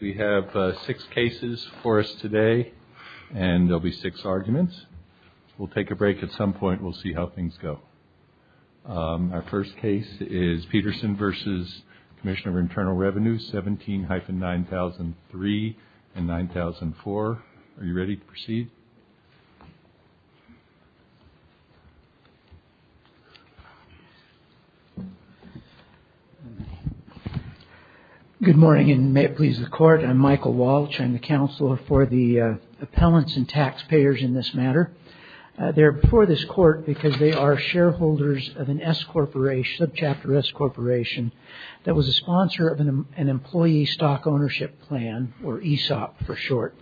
We have six cases for us today, and there'll be six arguments. We'll take a break at some point and we'll see how things go. Our first case is Peterson v. Commissioner of Internal Revenue, 17-9003 and 9004. Are you ready to proceed? Good morning, and may it please the Court. I'm Michael Walsh. I'm the Counselor for the Appellants and Taxpayers in this matter. They're before this Court because they are shareholders of a Subchapter S Corporation that was a sponsor of an Employee Stock Ownership Plan, or ESOP for short.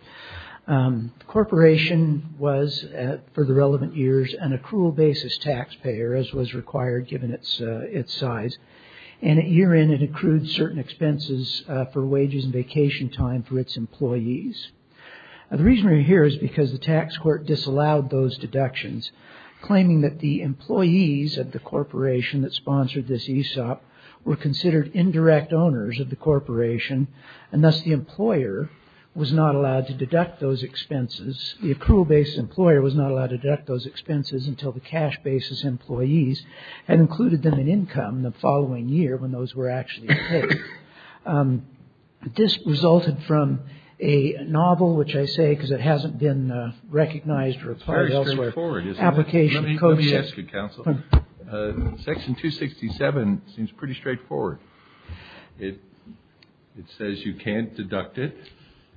The Corporation was, for the relevant years, an accrual basis taxpayer, as was required given its size. And at year-end, it accrued certain expenses for wages and vacation time for its employees. The reason we're here is because the Tax Court disallowed those deductions, claiming that the employees of the Corporation that sponsored this ESOP were considered indirect owners of the Corporation, and thus the employer was not allowed to deduct those expenses. The accrual basis employer was not allowed to deduct those expenses until the cash basis employees had included them in income the following year, when those were actually paid. This resulted from a novel, which I say because it hasn't been recognized or applied elsewhere. Let me ask you, Counsel. Section 267 seems pretty straightforward. It says you can't deduct it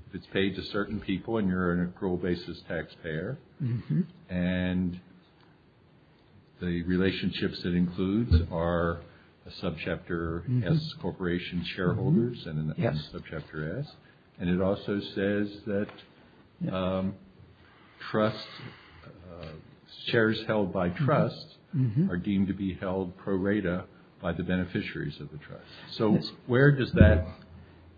if it's paid to certain people and you're an accrual basis taxpayer. And the relationships it includes are a Subchapter S Corporation shareholders and a Subchapter S. And it also says that shares held by trusts are deemed to be held pro rata by the beneficiaries of the trust. So where does that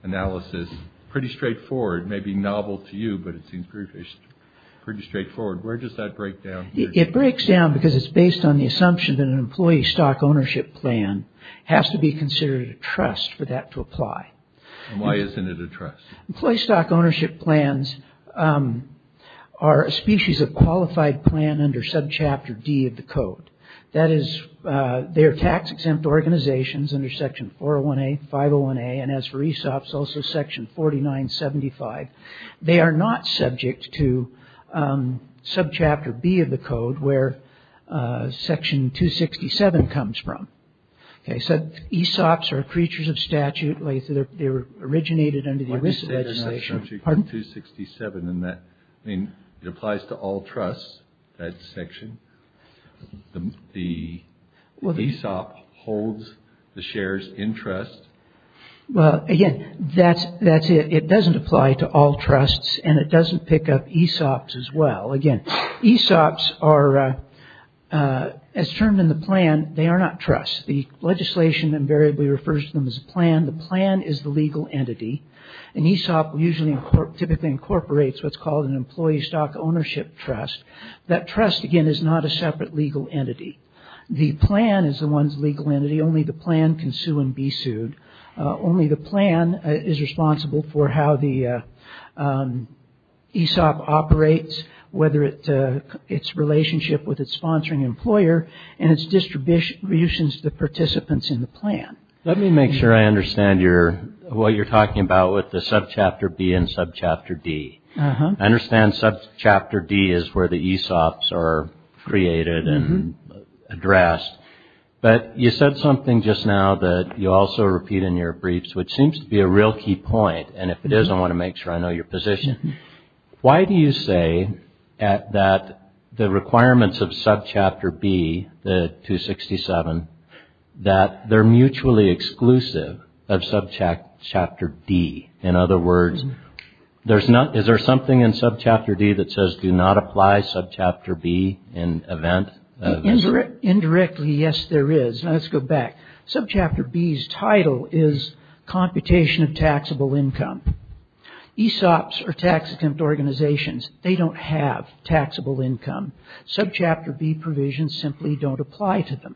analysis, pretty straightforward, may be novel to you, but it seems pretty straightforward. Where does that break down? It breaks down because it's based on the assumption that an employee stock ownership plan has to be considered a trust for that to apply. And why isn't it a trust? Employee stock ownership plans are a species of qualified plan under Subchapter D of the Code. That is, they are tax exempt organizations under Section 401A, 501A, and as for ESOPs, also Section 4975. They are not subject to Subchapter B of the Code, where Section 267 comes from. Okay, so ESOPs are creatures of statute. They originated under the ERISA legislation. Pardon? Section 267, it applies to all trusts, that section. The ESOP holds the shares in trust. Well, again, that's it. It doesn't apply to all trusts and it doesn't pick up ESOPs as well. Again, ESOPs are, as termed in the plan, they are not trusts. The legislation invariably refers to them as a plan. The plan is the legal entity. An ESOP typically incorporates what's called an employee stock ownership trust. That trust, again, is not a separate legal entity. The plan is the one's legal entity. Only the plan can sue and be sued. Only the plan is responsible for how the ESOP operates, whether it's relationship with its sponsoring employer and its distribution to the participants in the plan. Let me make sure I understand what you're talking about with the Subchapter B and Subchapter D. I understand Subchapter D is where the ESOPs are created and addressed, but you said something just now that you also repeat in your briefs, which seems to be a real key point, and if it is, I want to make sure I know your position. Why do you say that the requirements of Subchapter B, the 267, that they're mutually exclusive of Subchapter D? In other words, is there something in Subchapter D that says do not apply Subchapter B in event? Indirectly, yes, there is. Let's go back. Subchapter B's title is computation of taxable income. ESOPs are tax exempt organizations. They don't have taxable income. Subchapter B provisions simply don't apply to them.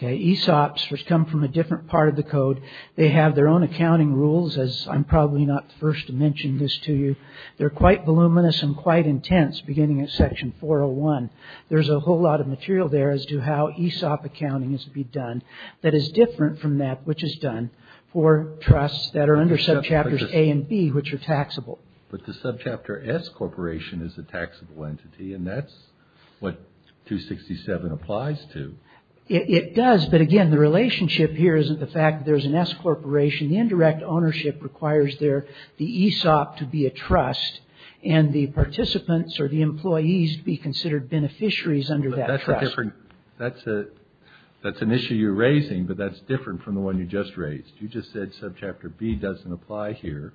ESOPs, which come from a different part of the code, they have their own accounting rules, as I'm probably not the first to mention this to you. They're quite voluminous and quite intense, beginning at Section 401. There's a whole lot of material there as to how ESOP accounting is to be done that is different from that which is done for trusts that are under Subchapters A and B, which are taxable. But the Subchapter S corporation is a taxable entity, and that's what 267 applies to. It does, but again, the relationship here isn't the fact that there's an S corporation. The indirect ownership requires the ESOP to be a trust, and the participants or the employees be considered beneficiaries under that trust. That's an issue you're raising, but that's different from the one you just raised. You just said Subchapter B doesn't apply here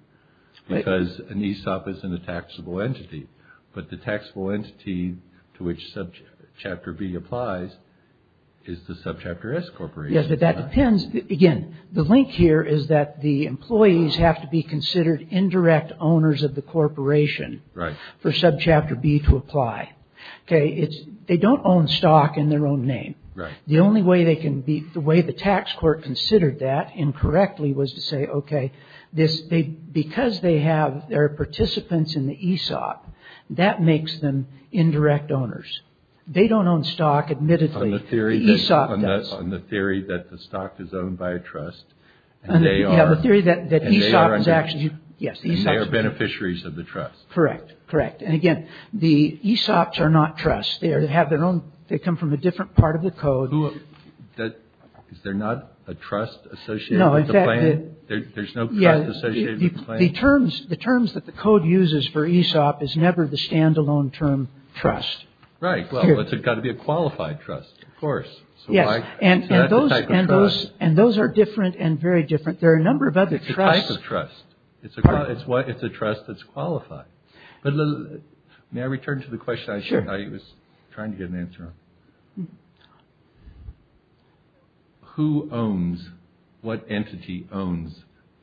because an ESOP isn't a taxable entity. But the taxable entity to which Subchapter B applies is the Subchapter S corporation. Yes, but that depends. Again, the link here is that the employees have to be considered indirect owners of the corporation for Subchapter B to apply. They don't own stock in their own name. Right. The only way the tax court considered that incorrectly was to say, okay, because there are participants in the ESOP, that makes them indirect owners. They don't own stock, admittedly. On the theory that the stock is owned by a trust, and they are beneficiaries of the trust. Correct, correct. And again, the ESOPs are not trusts. They come from a different part of the code. Is there not a trust associated with the claim? No. There's no trust associated with the claim? The terms that the code uses for ESOP is never the standalone term trust. Well, it's got to be a qualified trust. Of course. And those are different and very different. There are a number of other trusts. It's a type of trust. It's a trust that's qualified. May I return to the question I was trying to get an answer on? Sure. Who owns, what entity owns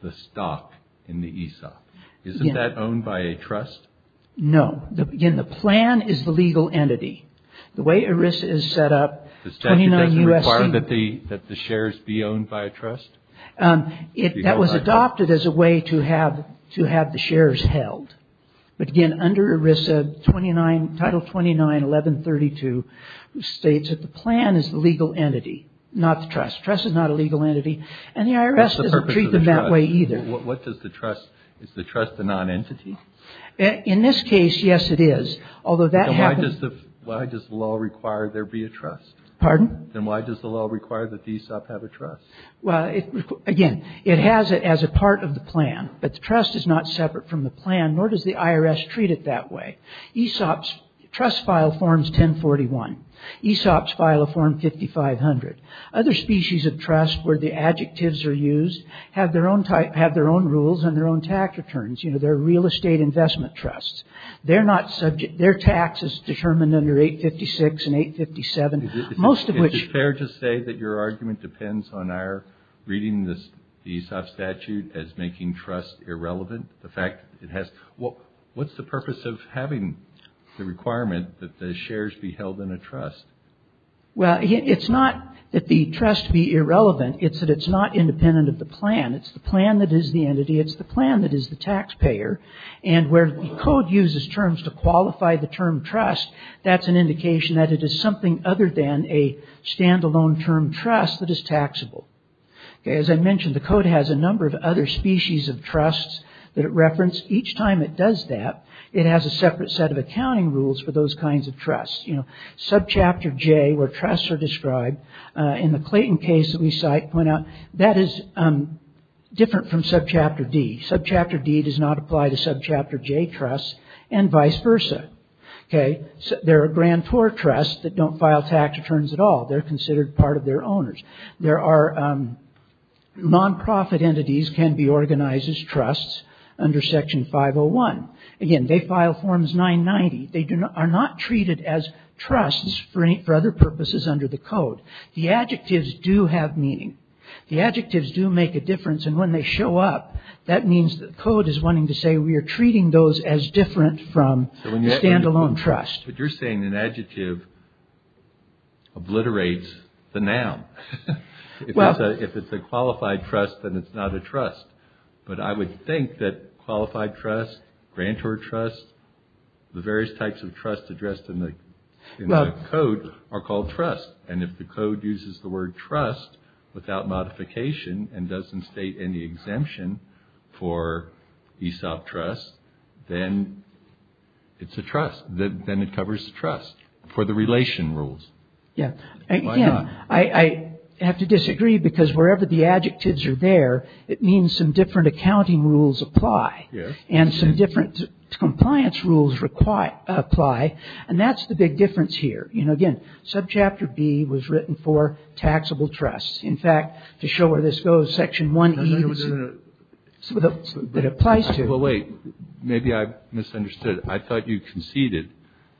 the stock in the ESOP? Isn't that owned by a trust? No. Again, the plan is the legal entity. The way ERISA is set up, 29 U.S.C. The statute doesn't require that the shares be owned by a trust? That was adopted as a way to have the shares held. But again, under ERISA, Title 29, 1132 states that the plan is the legal entity, not the trust. Trust is not a legal entity. And the IRS doesn't treat them that way either. What does the trust, is the trust a non-entity? In this case, yes, it is. Although that happens... Then why does the law require there be a trust? Pardon? Then why does the law require that the ESOP have a trust? Well, again, it has it as a part of the plan. But the trust is not separate from the plan, nor does the IRS treat it that way. ESOP's trust file forms 1041. ESOP's file will form 5500. Other species of trust where the adjectives are used have their own rules and their own tax returns. You know, they're real estate investment trusts. Their tax is determined under 856 and 857, most of which... Why does the law require reading the ESOP statute as making trust irrelevant? The fact that it has... What's the purpose of having the requirement that the shares be held in a trust? Well, it's not that the trust be irrelevant. It's that it's not independent of the plan. It's the plan that is the entity. It's the plan that is the taxpayer. And where the code uses terms to qualify the term trust, that's an indication that it is something other than a As I mentioned, the code has a number of other species of trusts that it referenced. Each time it does that, it has a separate set of accounting rules for those kinds of trusts. Subchapter J, where trusts are described, in the Clayton case that we cite, that is different from Subchapter D. Subchapter D does not apply to Subchapter J trusts, and vice versa. There are grantor trusts that don't file tax returns at all. They're considered part of their owners. There are non-profit entities can be organized as trusts under Section 501. Again, they file Forms 990. They are not treated as trusts for other purposes under the code. The adjectives do have meaning. The adjectives do make a difference. And when they show up, that means the code is wanting to say we are treating those as different from standalone trust. But you're saying an adjective obliterates the noun. If it's a qualified trust, then it's not a trust. But I would think that qualified trust, grantor trust, the various types of trust addressed in the code are called trust. And if the code uses the word trust without modification and doesn't state any exemption for ESOP trust, then it's a trust, then it covers the trust for the relation rules. Again, I have to disagree because wherever the adjectives are there, it means some different accounting rules apply. And some different compliance rules apply. And that's the big difference here. Again, Subchapter B was written for taxable trusts. In fact, to show where this goes, Section 1E that applies to it. Well, wait. Maybe I misunderstood. I thought you conceded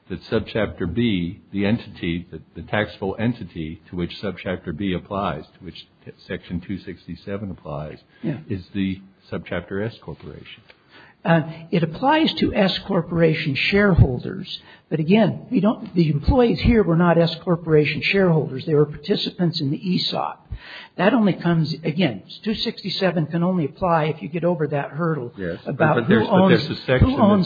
that Subchapter B, the entity, the taxable entity to which Subchapter B applies, to which Section 267 applies, is the Subchapter S Corporation. It applies to S Corporation shareholders. But again, the employees here were not S Corporation shareholders. They were participants in the ESOP. That only comes, again, 267 can only apply if you get over that hurdle about who owns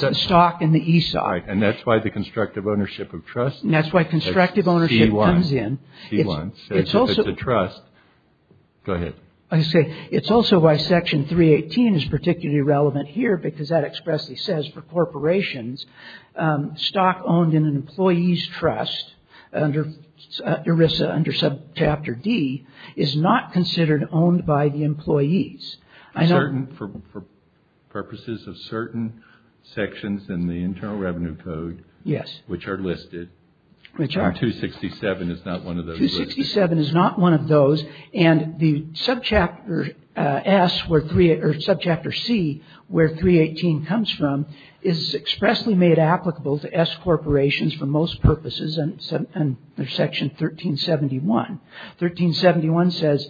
the stock in the ESOP. And that's why the constructive ownership of trust. And that's why constructive ownership comes in. It's a trust. Go ahead. I say it's also why Section 318 is particularly relevant here because that expressly says for corporations, stock owned in an employee's trust under ERISA, under Subchapter D, is not considered owned by the employees. For purposes of certain sections in the Internal Revenue Code, which are listed, 267 is not one of those. And the Subchapter S, or Subchapter C, where 318 comes from, is expressly made applicable to S Corporations for most purposes under Section 1371. 1371 says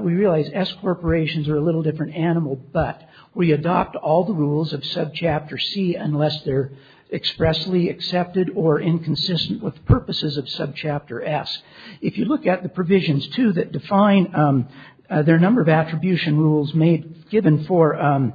we realize S Corporations are a little different animal, but we adopt all the rules of Subchapter C unless they're expressly accepted or inconsistent with purposes of Subchapter S. If you look at the provisions, too, that define their number of attribution rules given for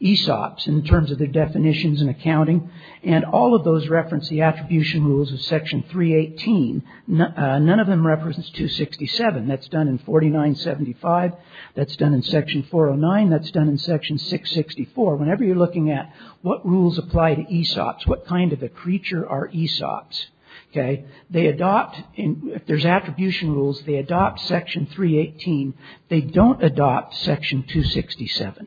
ESOPs in terms of their definitions and accounting, and all of those reference the attribution rules of Section 318, none of them reference 267. That's done in 4975. That's done in Section 409. That's done in Section 664. Whenever you're looking at what rules apply to ESOPs, what kind of a creature are ESOPs, they adopt. If there's attribution rules, they adopt Section 318. They don't adopt Section 267.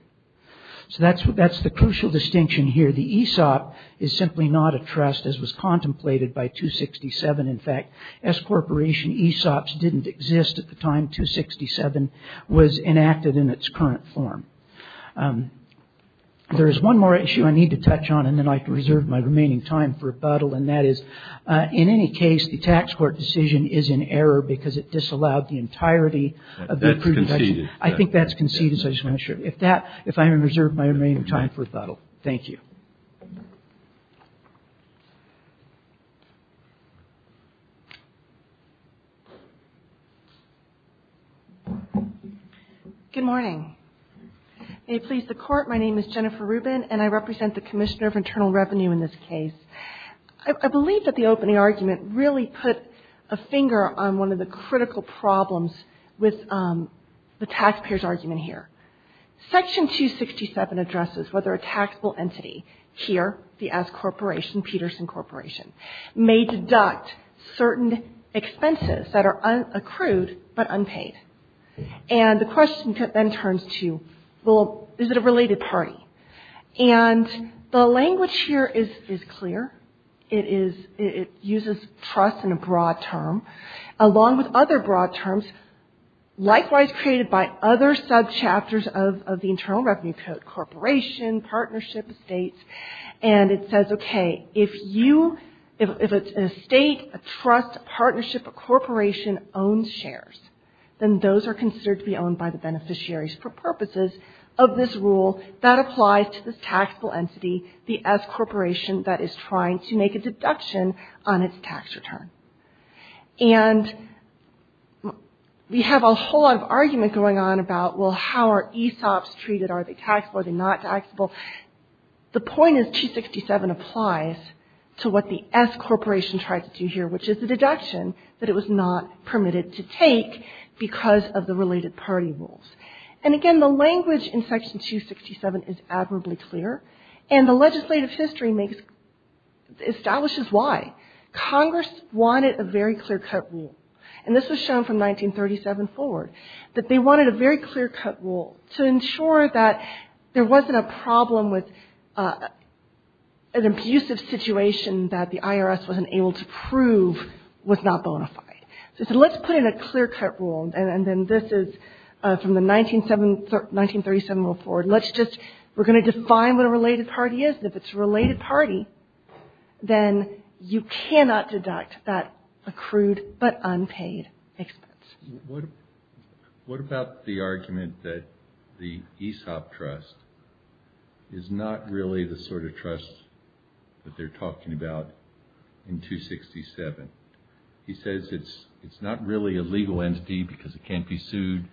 So that's the crucial distinction here. The ESOP is simply not a trust, as was contemplated by 267. In fact, S Corporation ESOPs didn't exist at the time 267 was enacted in its current form. There is one more issue I need to touch on, and then I can reserve my remaining time for rebuttal, and that is, in any case, the tax court decision is in error because it disallowed the entirety of the accrued deduction. I think that's conceded, so I just want to make sure. If I may reserve my remaining time for rebuttal. Thank you. Good morning. May it please the Court, my name is Jennifer Rubin, and I represent the Commissioner of Internal Revenue in this case. I believe that the opening argument really put a finger on one of the critical problems with the taxpayers' argument here. Section 267 addresses whether a taxable entity here, the S Corporation, Peterson Corporation, may deduct certain expenses that are accrued but unpaid. And the question then turns to, well, is it a related party? And the language here is clear. It uses trust in a broad term, along with other broad terms, likewise created by other sub-chapters of the Internal Revenue Code, Corporation, Partnership, Estates. And it says, okay, if a state, a trust, a partnership, a corporation owns shares, then those are considered to be owned by the beneficiaries for purposes of this rule that applies to this taxable entity, the S Corporation that is trying to make a deduction on its tax return. And we have a whole lot of argument going on about, well, how are ESOPs treated? Are they taxable? Are they not taxable? The point is 267 applies to what the S Corporation tried to do here, which is the deduction that it was not permitted to take because of the related party rules. And again, the language in Section 267 is admirably clear, and the legislative history establishes why. Congress wanted a very clear-cut rule, and this was shown from 1937 forward, that they wanted a very clear-cut rule to ensure that there wasn't a problem with an abusive situation that the IRS wasn't able to prove was not bona fide. So they said, let's put in a clear-cut rule, and then this is from the 1937 rule forward. Let's just, we're going to define what a related party is, and if it's a related party, then you cannot deduct that accrued but unpaid expense. What about the argument that the ESOP trust is not really the sort of trust that they're talking about in 267? He says it's not really a legal entity because it can't be sued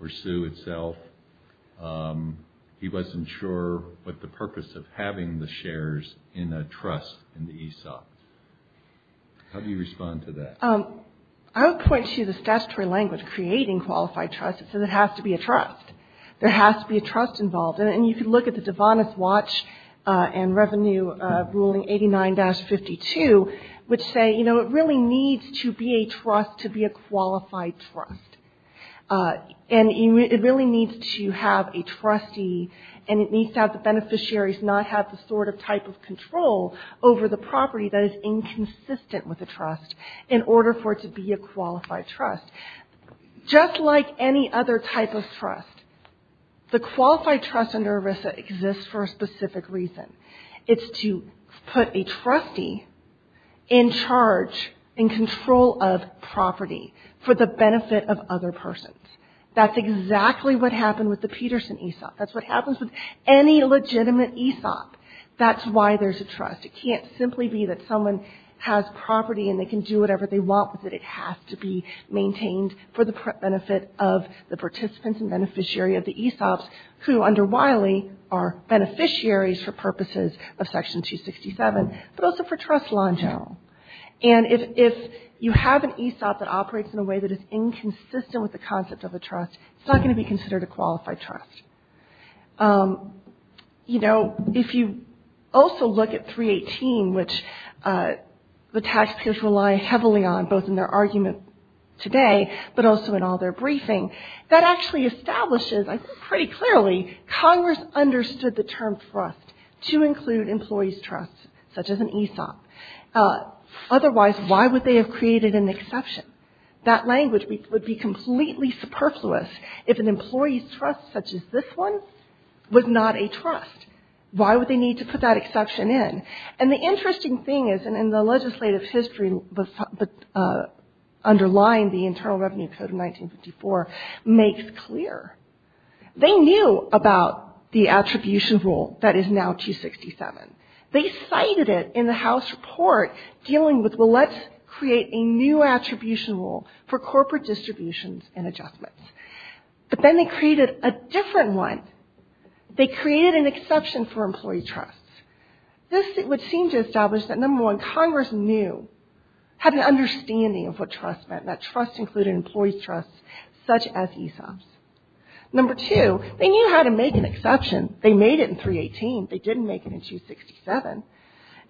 or sue itself. He wasn't sure what the purpose of having the shares in a trust in the ESOP. How do you respond to that? I would point to the statutory language creating qualified trust. It says it has to be a trust. There has to be a trust involved. And you can look at the DeVonis Watch and Revenue Ruling 89-52, which say, you know, it really needs to be a trust to be a qualified trust. And it really needs to have a trustee, and it needs to have the beneficiaries not have the sort of type of control over the property that is inconsistent with the trust in order for it to be a qualified trust. Just like any other type of trust, the qualified trust under ERISA exists for a specific reason. It's to put a trustee in charge and control of property for the benefit of other persons. That's exactly what happened with the Peterson ESOP. That's what happens with any legitimate ESOP. That's why there's a trust. It can't simply be that someone has property and they can do whatever they want with it. It has to be maintained for the benefit of the participants and beneficiary of the ESOPs who, under Wiley, are beneficiaries for purposes of Section 267, but also for trust law in general. And if you have an ESOP that operates in a way that is inconsistent with the concept of a trust, it's not going to be considered a qualified trust. You know, if you also look at 318, which the taxpayers rely heavily on, both in their argument today, but also in all their briefing, that actually establishes, I think pretty clearly, Congress understood the term trust to include employees' trust, such as an ESOP. Otherwise, why would they have created an exception? That language would be completely superfluous if an employee's trust, such as this one, was not a trust. Why would they need to put that exception in? And the interesting thing is, and the legislative history underlying the Internal Revenue Code of 1954 makes clear, they knew about the attribution rule that is now 267. They cited it in the House report dealing with, well, let's create a new attribution rule for corporate distributions and adjustments. But then they created a different one. They created an exception for employee trust. This would seem to establish that, number one, Congress knew, had an understanding of what trust meant, that trust included employee's trust, such as ESOPs. Number two, they knew how to make an exception. They made it in 318. They didn't make it in 267.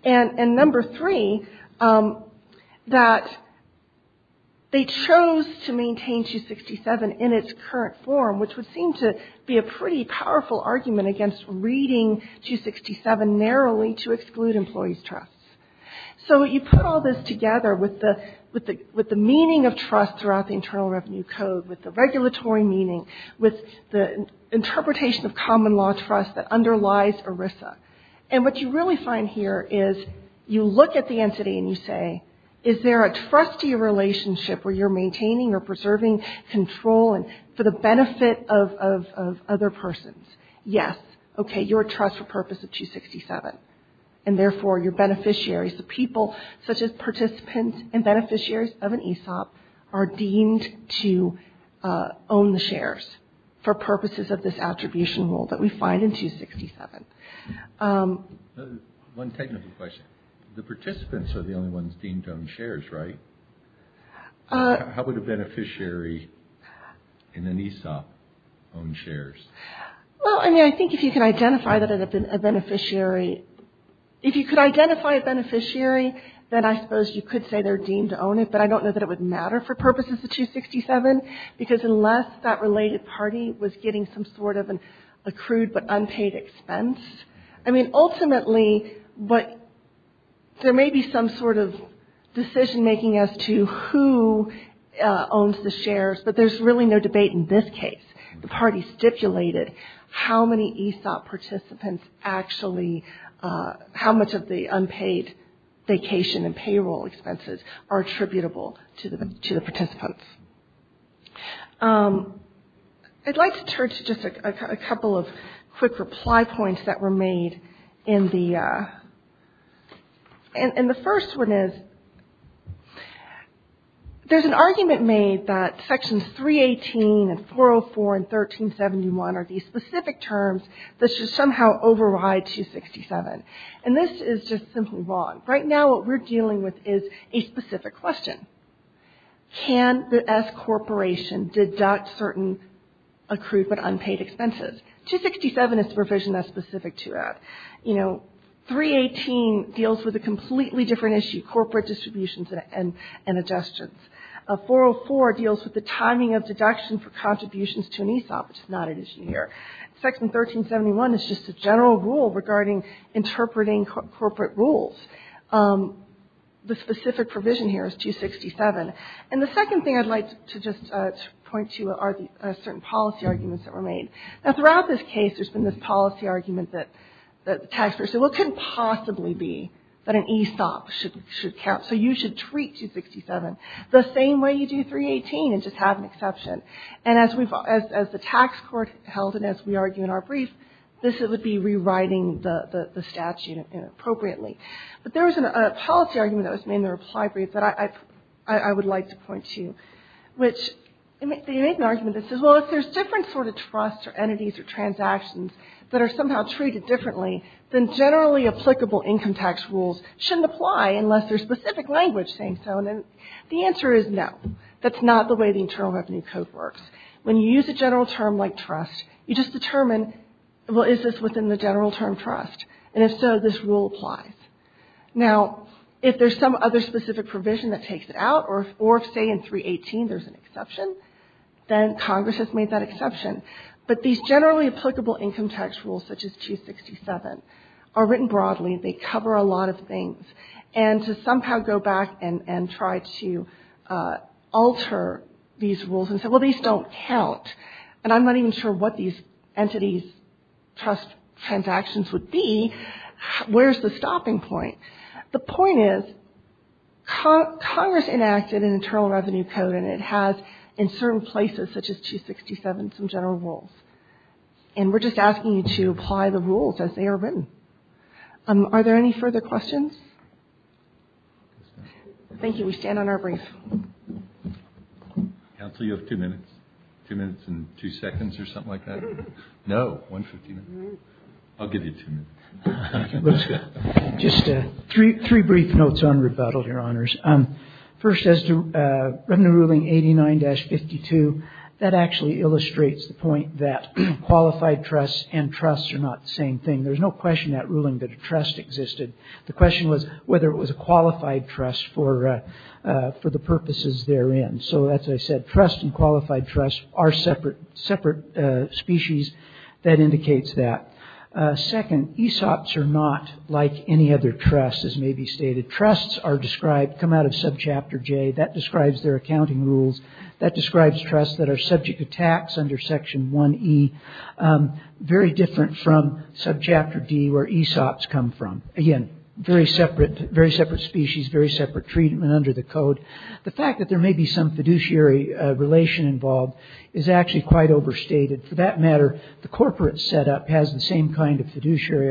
And number three, that they chose to maintain 267 in its current form, which would seem to be a pretty powerful argument against reading 267 narrowly to exclude employee's trust. So you put all this together with the meaning of trust throughout the Internal Revenue Code, with the regulatory meaning, with the interpretation of common law trust that underlies ERISA. And what you really find here is you look at the entity and you say, is there a trustee relationship where you're maintaining or preserving control for the benefit of other persons? Yes. Okay. You're a trust for purpose of 267. And therefore, you're beneficiaries. The people, such as participants and beneficiaries of an ESOP, are deemed to own the shares for purposes of this attribution rule that we find in 267. One technical question. The participants are the only ones deemed to own shares, right? How would a beneficiary in an ESOP own shares? Well, I mean, I think if you can identify that a beneficiary, if you could identify a beneficiary, then I suppose you could say they're deemed to own it. But I don't know that it would matter for purposes of 267, because unless that related party was getting some sort of an accrued but unpaid expense. I mean, ultimately, but there may be some sort of decision-making as to who owns the shares. But there's really no debate in this case. The party stipulated how many ESOP participants actually, how much of the unpaid vacation and payroll expenses are attributable to the participants. I'd like to turn to just a couple of quick reply points that were made in the first one is, there's an argument made that sections 318 and 404 and 1371 are these specific terms that should somehow override 267. And this is just simply wrong. Right now, what we're dealing with is a specific question. Can the S Corporation deduct certain accrued but unpaid expenses? 267 is the provision that's specific to that. You know, 318 deals with a completely different issue, corporate distributions and adjustments. 404 deals with the timing of deduction for contributions to an ESOP, which is not an issue here. Section 1371 is just a general rule regarding interpreting corporate rules. The specific provision here is 267. And the second thing I'd like to just point to are the certain policy arguments that were made. Now, throughout this case, there's been this policy argument that taxpayers said, what could possibly be that an ESOP should count? So you should treat 267 the same way you do 318 and just have an exception. And as the tax court held and as we argue in our brief, this would be rewriting the statute inappropriately. But there was a policy argument that was made in the reply brief that I would like to point to, which the argument is, well, if there's different sort of trusts or entities or transactions that are somehow treated differently, then generally applicable income tax rules shouldn't apply unless there's specific language saying so. And the answer is no. That's not the way the Internal Revenue Code works. When you use a general term like trust, you just determine, well, is this within the general term trust? And if so, this rule applies. Now, if there's some other specific provision that takes it out or if, say, in 318 there's an exception, then Congress has made that exception. But these generally applicable income tax rules, such as 267, are written broadly. They cover a lot of things. And to somehow go back and try to alter these rules and say, well, these don't count and I'm not even sure what these entities' trust transactions would be, where's the stopping point? The point is Congress enacted an Internal Revenue Code and it has in certain places, such as 267, some general rules. And we're just asking you to apply the rules as they are written. Are there any further questions? Thank you. We stand on our brief. Counsel, you have two minutes. Two minutes and two seconds or something like that. No, 150 minutes. I'll give you two minutes. Just three brief notes on rebuttal, Your Honors. First, as to Revenue Ruling 89-52, that actually illustrates the point that qualified trusts and trusts are not the same thing. There's no question in that ruling that a trust existed. The question was whether it was a qualified trust for the purposes therein. So, as I said, trust and qualified trust are separate species. That indicates that. Second, ESOPs are not like any other trust, as may be stated. Trusts come out of Subchapter J. That describes their accounting rules. That describes trusts that are subject to tax under Section 1E. Very different from Subchapter D, where ESOPs come from. Again, very separate species, very separate treatment under the code. The fact that there may be some fiduciary relation involved is actually quite overstated. For that matter, the corporate setup has the same kind of fiduciary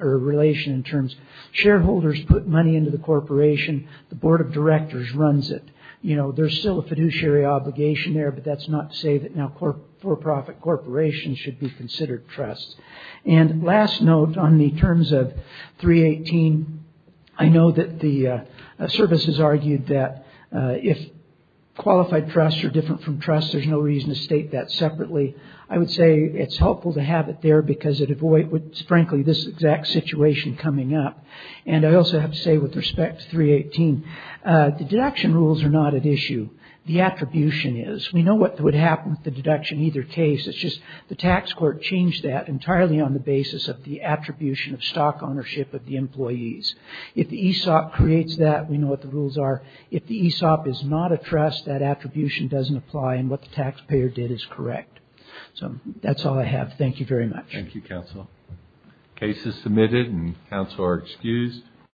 relation in terms of shareholders put money into the corporation, the Board of Directors runs it. There's still a fiduciary obligation there, but that's not to say that now for-profit corporations should be considered trusts. And last note on the terms of 318. I know that the services argued that if qualified trusts are different from trusts, there's no reason to state that separately. I would say it's helpful to have it there, because it avoids, frankly, this exact situation coming up. And I also have to say, with respect to 318, the deduction rules are not at issue. The attribution is. We know what would happen with the deduction in either case. It's just the tax court changed that entirely on the basis of the attribution of stock ownership of the employees. If the ESOP creates that, we know what the rules are. If the ESOP is not a trust, that attribution doesn't apply, and what the taxpayer did is correct. So that's all I have. Thank you very much. Thank you, counsel. Case is submitted, and counsel are excused.